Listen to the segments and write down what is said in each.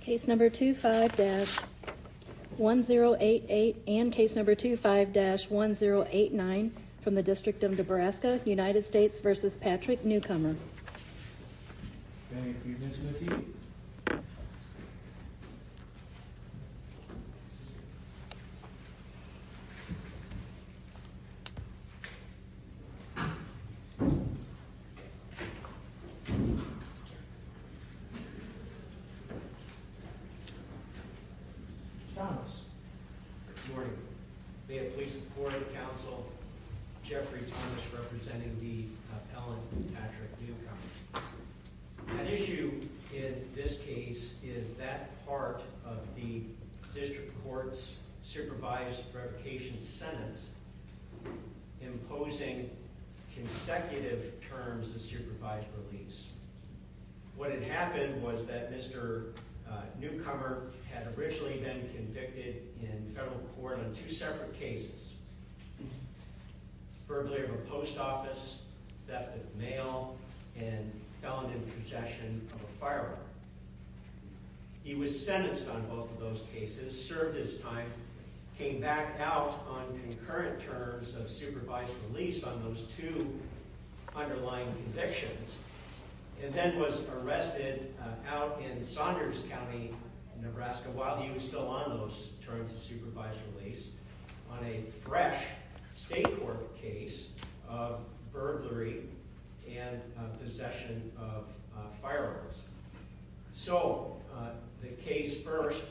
Case number 25-1088 and case number 25-1089 from the District of Nebraska, United States v. Patrick Newcomer. Good morning. May it please the court and counsel, Jeffrey Thomas representing the Ellen and Patrick Newcomer. An issue in this case is that part of the district court's supervised revocation sentence imposing consecutive terms of supervised release. What had happened was that Mr. Newcomer had originally been convicted in federal court on two separate cases, verbally of a post office, theft of mail, and felon in possession of a firearm. He was sentenced on both of those cases, served his time, came back out on concurrent terms of supervised release on those two underlying convictions. And then was arrested out in Saunders County, Nebraska while he was still on those terms of supervised release on a fresh state court case of burglary and possession of firearms. So the case first,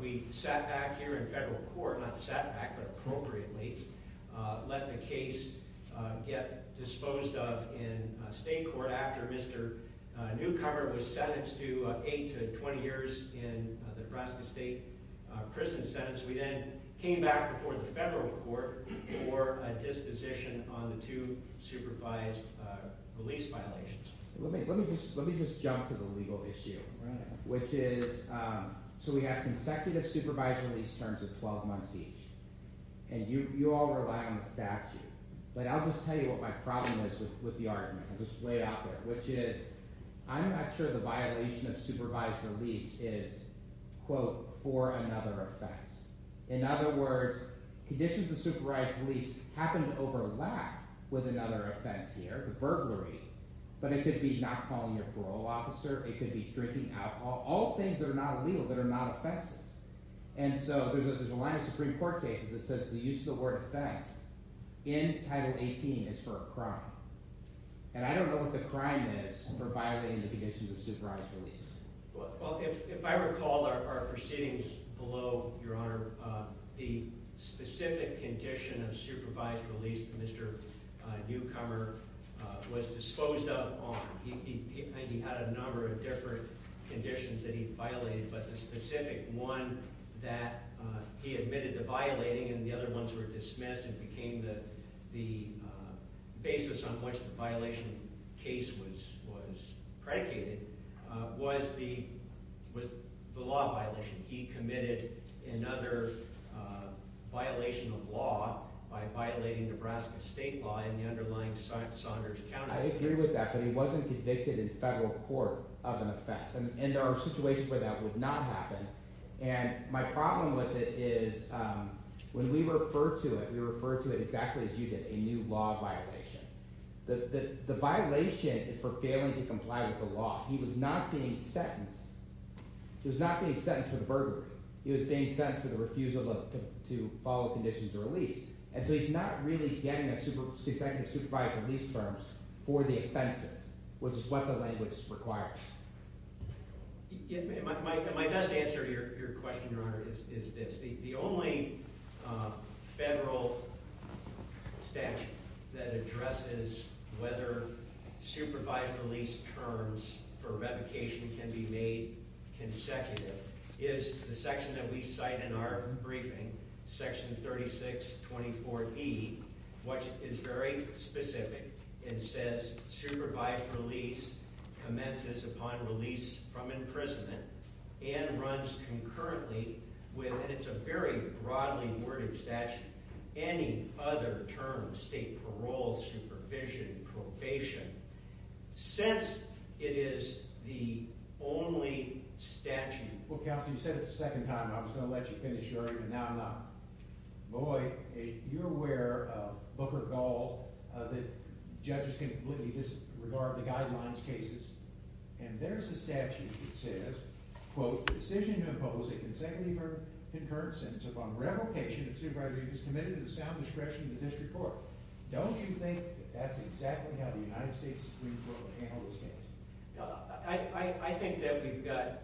we sat back here in federal court, not sat back but appropriately, let the case get disposed of in state court after Mr. Newcomer was sentenced to 8 to 20 years in the Nebraska State Prison sentence. We then came back before the federal court for a disposition on the two supervised release violations. Let me just jump to the legal issue, which is, so we have consecutive supervised release terms of 12 months each. And you all rely on the statute, but I'll just tell you what my problem is with the argument. I'll just lay it out there, which is I'm not sure the violation of supervised release is, quote, for another offense. In other words, conditions of supervised release happen to overlap with another offense here, the burglary, but it could be not calling a parole officer. It could be drinking alcohol, all things that are not illegal that are not offenses. And so there's a line of Supreme Court cases that says the use of the word offense in Title 18 is for a crime. And I don't know what the crime is for violating the conditions of supervised release. Well, if I recall our proceedings below, Your Honor, the specific condition of supervised release that Mr. Newcomer was disposed of on, he had a number of different conditions that he violated, but the specific one that he admitted to violating and the other ones were dismissed and became the basis on which the violation case was predicated was the law violation. He committed another violation of law by violating Nebraska state law in the underlying Saunders County case. I agree with that, but he wasn't convicted in federal court of an offense, and there are situations where that would not happen. And my problem with it is when we refer to it, we refer to it exactly as you did, a new law violation. The violation is for failing to comply with the law. He was not being sentenced. He was not being sentenced for the burglary. He was being sentenced for the refusal to follow the conditions of release. And so he's not really getting a consecutive supervised release for the offenses, which is what the language requires. My best answer to your question, Your Honor, is this. The only federal statute that addresses whether supervised release terms for revocation can be made consecutive is the section that we cite in our briefing, section 3624E, which is very specific. It says supervised release commences upon release from imprisonment and runs concurrently with, and it's a very broadly worded statute, any other term, state parole, supervision, probation, since it is the only statute. Well, counsel, you said it the second time. I was going to let you finish earlier, but now I'm not. Boy, you're aware of Booker Gall, that judges can completely disregard the guidelines cases. And there's a statute that says, quote, the decision to impose a consecutive or concurrent sentence upon revocation of supervised release is committed to the sound discretion of the district court. Don't you think that's exactly how the United States Supreme Court handled this case? I think that we've got,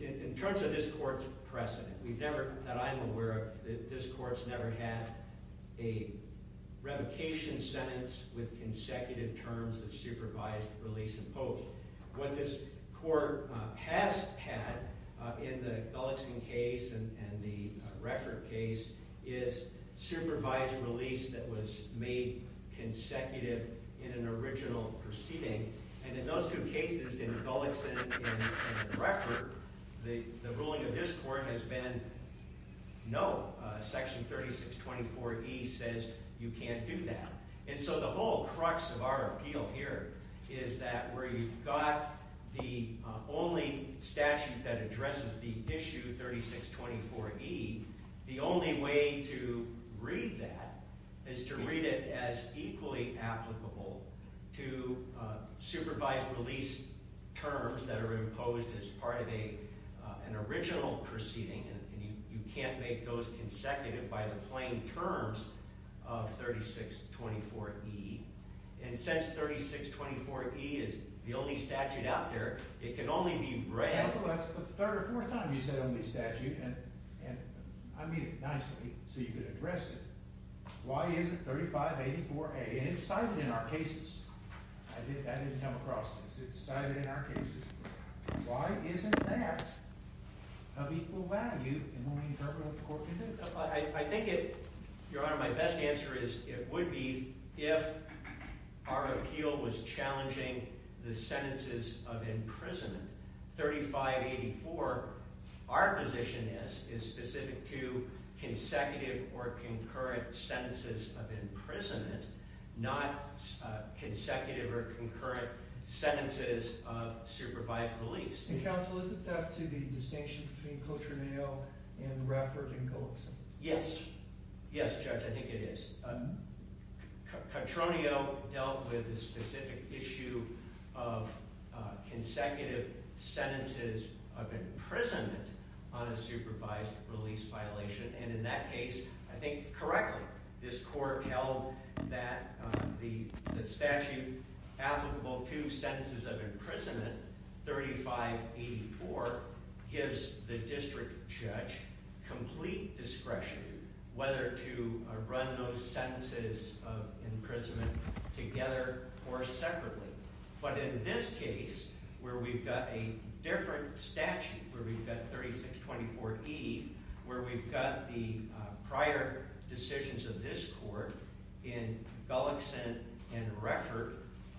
in terms of this court's precedent, we've never, that I'm aware of, that this court's never had a revocation sentence with consecutive terms of supervised release imposed. What this court has had in the Gullickson case and the Reford case is supervised release that was made consecutive in an original proceeding. And in those two cases, in Gullickson and in Reford, the ruling of this court has been, no, section 3624E says you can't do that. And so the whole crux of our appeal here is that where you've got the only statute that addresses the issue 3624E, the only way to read that is to read it as equally applicable to supervised release terms that are imposed as part of an original proceeding. And you can't make those consecutive by the plain terms of 3624E. And since 3624E is the only statute out there, it can only be read… I didn't come across this. It's cited in our cases. Why isn't that of equal value in what we interpret what the court can do? Your Honor, my best answer would be if our appeal was challenging the sentences of imprisonment, 3584, our position is specific to consecutive or concurrent sentences of imprisonment, not consecutive or concurrent sentences of supervised release. And counsel, is it theft to the distinction between Cotroneo and Reford and Gullickson? Yes. Yes, Judge, I think it is. Cotroneo dealt with the specific issue of consecutive sentences of imprisonment on a supervised release violation. And in that case, I think correctly, this court held that the statute applicable to sentences of imprisonment, 3584, gives the district judge complete discretion whether to run those sentences of imprisonment together or separately. But in this case, where we've got a different statute, where we've got 3624E, where we've got the prior decisions of this court in Gullickson and Reford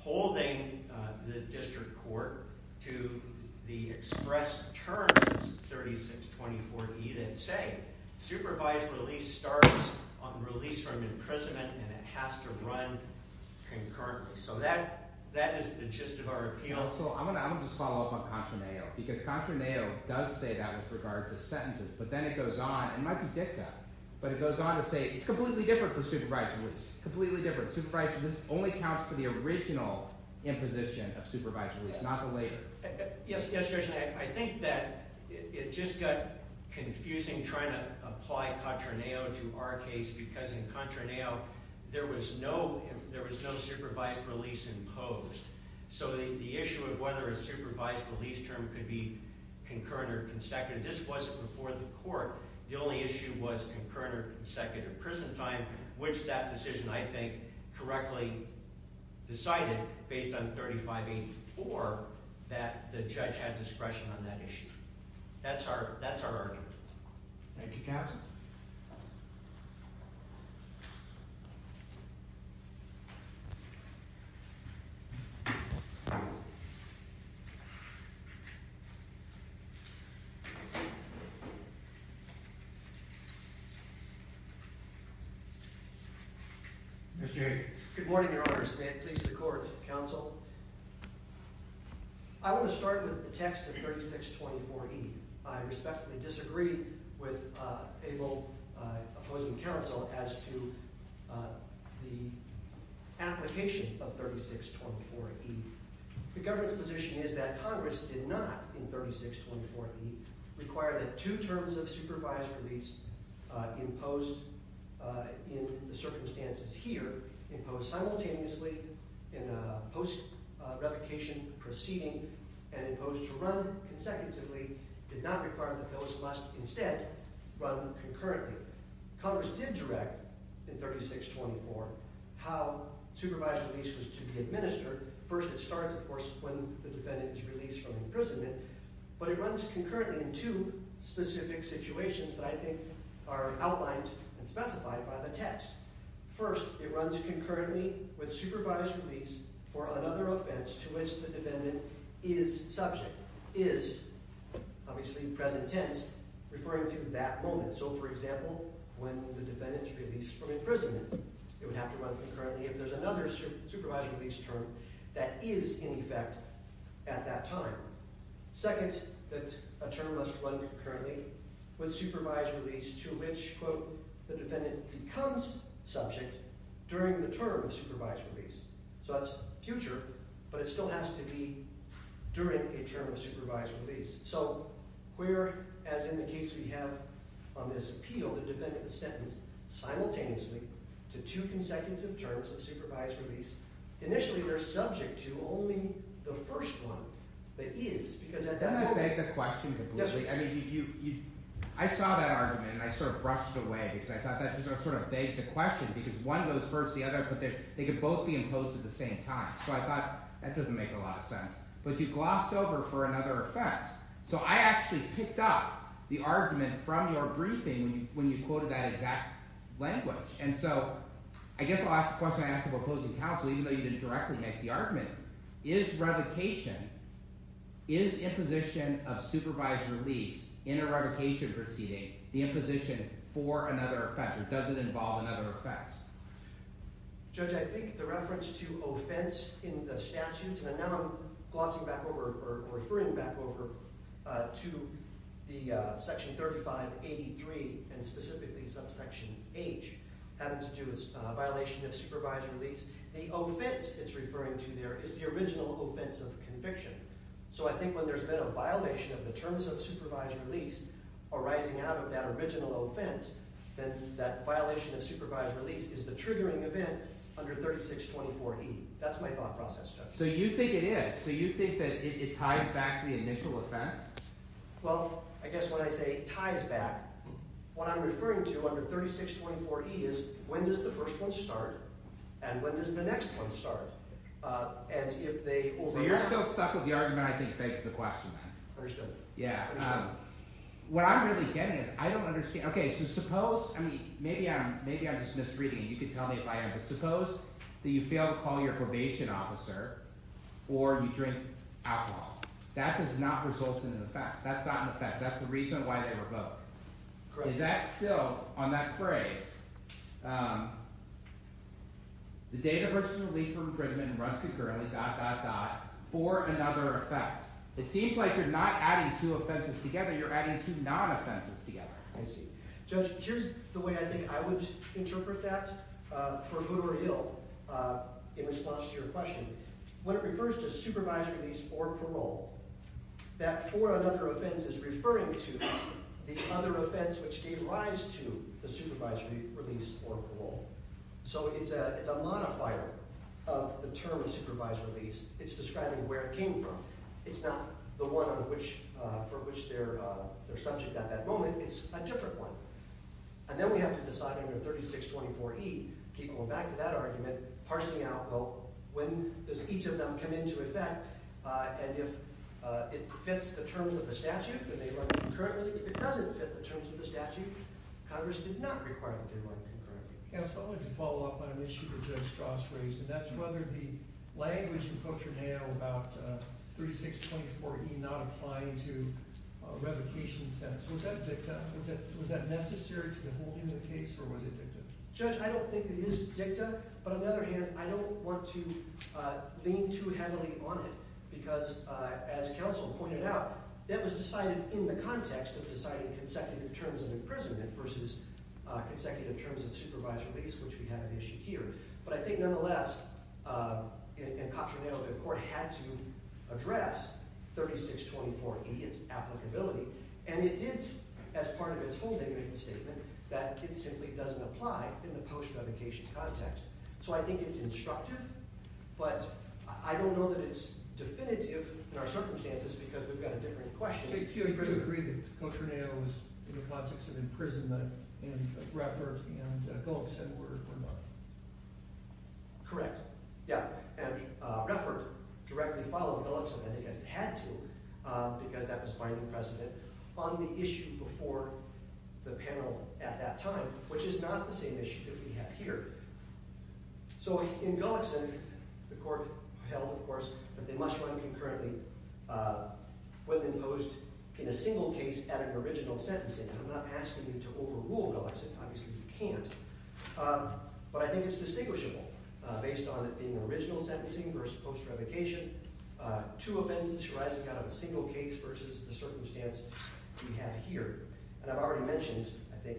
holding the district court to the express terms of 3624E that say supervised release starts on release from imprisonment and it has to run concurrently. So that is the gist of our appeal. Counsel, I'm going to just follow up on Cotroneo, because Cotroneo does say that with regard to sentences. But then it goes on, it might be dicta, but it goes on to say it's completely different for supervised release. Completely different. Supervised release only counts for the original imposition of supervised release, not the later. Yes, Judge, I think that it just got confusing trying to apply Cotroneo to our case, because in Cotroneo, there was no supervised release imposed. So the issue of whether a supervised release term could be concurrent or consecutive, this wasn't before the court. The only issue was concurrent or consecutive prison time, which that decision, I think, correctly decided, based on 3584, that the judge had discretion on that issue. That's our argument. Thank you, Counsel. Mr. Jacobs. Good morning, Your Honors. May it please the Court, Counsel. I want to start with the text of 3624E. I respectfully disagree with Abel opposing Counsel as to the application of 3624E. The government's position is that Congress did not, in 3624E, require that two terms of supervised release imposed in the circumstances here, imposed simultaneously in a post-revocation proceeding and imposed to run consecutively, did not require that those must instead run concurrently. Congress did direct, in 3624, how supervised release was to be administered. First, it starts, of course, when the defendant is released from imprisonment, but it runs concurrently in two specific situations that I think are outlined and specified by the text. First, it runs concurrently with supervised release for another offense to which the defendant is subject, is, obviously, present tense, referring to that moment. So, for example, when the defendant is released from imprisonment, it would have to run concurrently if there's another supervised release term that is in effect at that time. Second, that a term must run concurrently with supervised release to which, quote, the defendant becomes subject during the term of supervised release. So that's future, but it still has to be during a term of supervised release. So we're, as in the case we have on this appeal, the defendant is sentenced simultaneously to two consecutive terms of supervised release. Initially, they're subject to only the first one, the is, because at that moment— Can I beg the question completely? Yes, sir. I mean, you—I saw that argument, and I sort of brushed away because I thought that sort of begged the question because one goes first, the other, but they could both be imposed at the same time. So I thought that doesn't make a lot of sense. But you glossed over for another offense, so I actually picked up the argument from your briefing when you quoted that exact language. And so I guess I'll ask the question I asked the proposing counsel, even though you didn't directly make the argument. Is revocation—is imposition of supervised release in a revocation proceeding the imposition for another offense, or does it involve another offense? Judge, I think the reference to offense in the statute—and now I'm glossing back over or referring back over to the section 3583 and specifically subsection H having to do with violation of supervised release. The offense it's referring to there is the original offense of conviction. So I think when there's been a violation of the terms of supervised release arising out of that original offense, then that violation of supervised release is the triggering event under 3624E. That's my thought process, Judge. So you think it is? So you think that it ties back to the initial offense? Well, I guess when I say ties back, what I'm referring to under 3624E is when does the first one start and when does the next one start? And if they overlap— So you're still stuck with the argument I think begs the question then. I understand. Yeah. I understand. What I'm really getting at, I don't understand. Okay, so suppose—I mean, maybe I'm just misreading it. You can tell me if I am. But suppose that you fail to call your probation officer or you drink alcohol. That does not result in an offense. That's not an offense. That's the reason why they revoke. Correct. So is that still, on that phrase, the data versus relief for imprisonment runs concurrently, dot, dot, dot, for another offense. It seems like you're not adding two offenses together. You're adding two non-offenses together. I see. Judge, here's the way I think I would interpret that for Hood or Hill in response to your question. When it refers to supervised release or parole, that for another offense is referring to the other offense which gave rise to the supervised release or parole. So it's a modifier of the term supervised release. It's describing where it came from. It's not the one for which they're subject at that moment. It's a different one. And then we have to decide under 3624E, going back to that argument, parsing out, well, when does each of them come into effect? And if it fits the terms of the statute, then they run concurrently. If it doesn't fit the terms of the statute, Congress did not require that they run concurrently. Counsel, I wanted to follow up on an issue that Judge Strass raised, and that's whether the language in Cochraneo about 3624E not applying to revocation sentence, was that dicta? Was that necessary to the whole end of the case, or was it dicta? Judge, I don't think it is dicta. But on the other hand, I don't want to lean too heavily on it because, as counsel pointed out, that was decided in the context of deciding consecutive terms of imprisonment versus consecutive terms of supervised release, which we have at issue here. But I think nonetheless, in Cochraneo, the court had to address 3624E, its applicability. And it did, as part of its whole degrading statement, that it simply doesn't apply in the post-revocation context. So I think it's instructive, but I don't know that it's definitive in our circumstances because we've got a different question. Do you agree that Cochraneo was in the context of imprisonment and Reffert and Gullickson were not? Correct. Yeah. And Reffert directly followed Gullickson, I think as it had to, because that was final precedent, on the issue before the panel at that time, which is not the same issue that we have here. So in Gullickson, the court held, of course, that they must run concurrently when imposed in a single case at an original sentencing. I'm not asking you to overrule Gullickson. Obviously you can't. But I think it's distinguishable, based on it being an original sentencing versus post-revocation, two offenses arising out of a single case versus the circumstance we have here. And I've already mentioned, I think,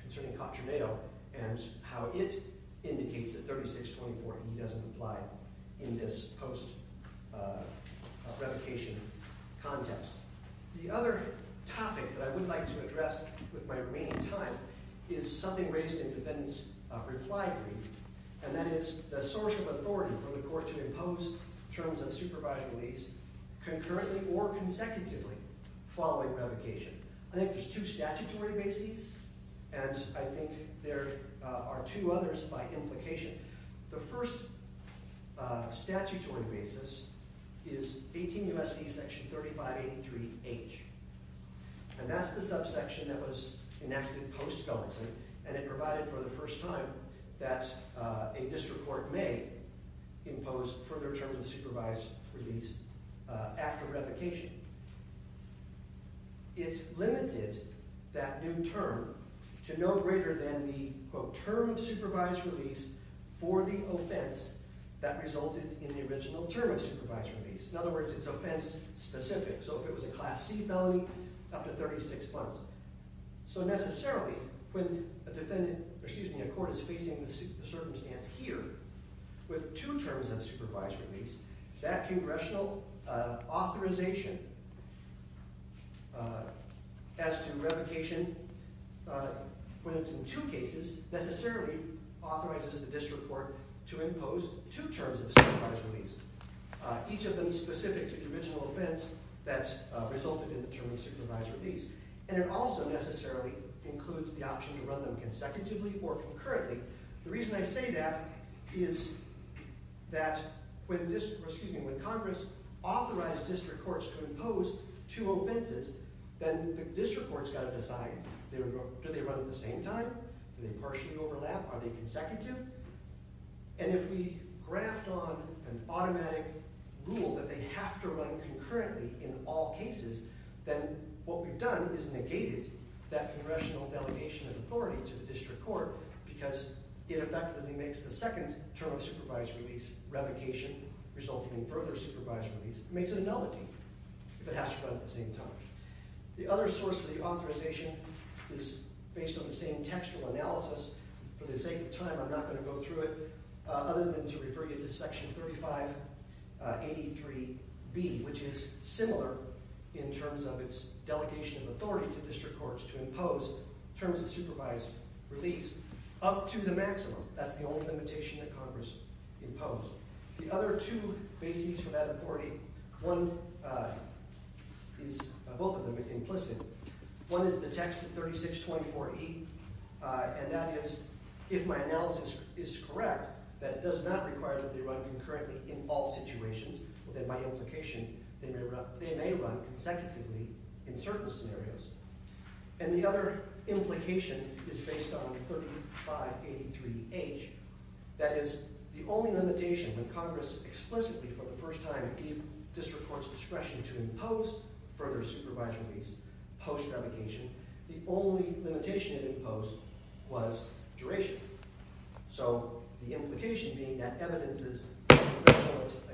concerning Cochraneo and how it indicates that 3624E doesn't apply in this post-revocation context. The other topic that I would like to address with my remaining time is something raised in defendant's reply brief, and that is the source of authority for the court to impose terms of supervised release concurrently or consecutively following revocation. I think there's two statutory bases, and I think there are two others by implication. The first statutory basis is 18 U.S.C. section 3583H, and that's the subsection that was enacted post-Gullickson, and it provided for the first time that a district court may impose further terms of supervised release after revocation. It limited that new term to no greater than the, quote, term of supervised release for the offense that resulted in the original term of supervised release. In other words, it's offense-specific. So if it was a Class C felony, up to 36 months. So necessarily, when a defendant, excuse me, a court is facing the circumstance here with two terms of supervised release, that congressional authorization as to revocation, when it's in two cases, necessarily authorizes the district court to impose two terms of supervised release, each of them specific to the original offense that resulted in the term of supervised release. And it also necessarily includes the option to run them consecutively or concurrently. The reason I say that is that when Congress authorized district courts to impose two offenses, then the district court's got to decide. Do they run at the same time? Do they partially overlap? Are they consecutive? And if we graft on an automatic rule that they have to run concurrently in all cases, then what we've done is negated that congressional delegation of authority to the district court, because it effectively makes the second term of supervised release, revocation, resulting in further supervised release, makes it a nullity if it has to run at the same time. The other source of the authorization is based on the same textual analysis. For the sake of time, I'm not going to go through it other than to refer you to Section 3583B, which is similar in terms of its delegation of authority to district courts to impose terms of supervised release up to the maximum. That's the only limitation that Congress imposed. The other two bases for that authority, both of them are implicit. One is the text of 3624E, and that is, if my analysis is correct, that does not require that they run concurrently in all situations. Well, then by implication, they may run consecutively in certain scenarios. And the other implication is based on 3583H. That is, the only limitation that Congress explicitly, for the first time, gave district court's discretion to impose further supervised release post-revocation, the only limitation it imposed was duration. So the implication being that evidence is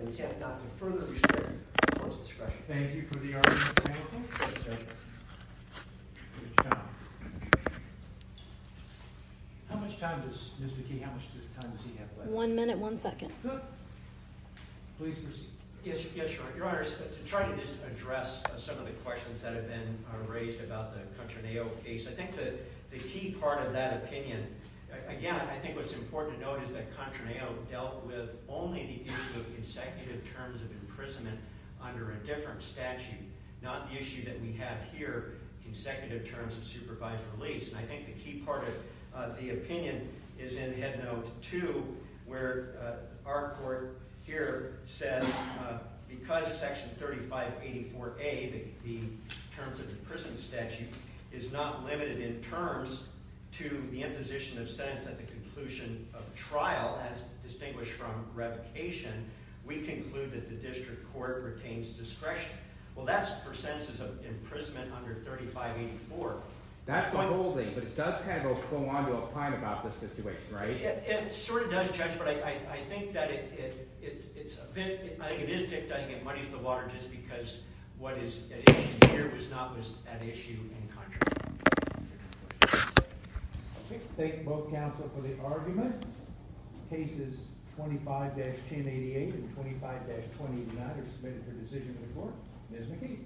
intent not to further restrict the court's discretion. Thank you for the argument, Mr. Hamilton. How much time does Ms. McKee have left? One minute, one second. Please proceed. Yes, Your Honor. To try to just address some of the questions that have been raised about the Controneo case, I think the key part of that opinion—again, I think what's important to note is that Controneo dealt with only the issue of consecutive terms of imprisonment under a different statute, not the issue that we have here, consecutive terms of supervised release. And I think the key part of the opinion is in Headnote 2, where our court here says, because Section 3584A, the terms of imprisonment statute, is not limited in terms to the imposition of sentence at the conclusion of trial, as distinguished from revocation, we conclude that the district court retains discretion. Well, that's for sentences of imprisonment under 3584. That's the whole thing, but it does kind of go claw-into-a-pine about this situation, right? It sort of does, Judge, but I think that it's a bit agonistic to get money for the water just because what is at issue here was not at issue in Controneo. Thank you, both counsel, for the argument. Cases 25-1088 and 25-29 are submitted for decision to the court. Ms. McKee.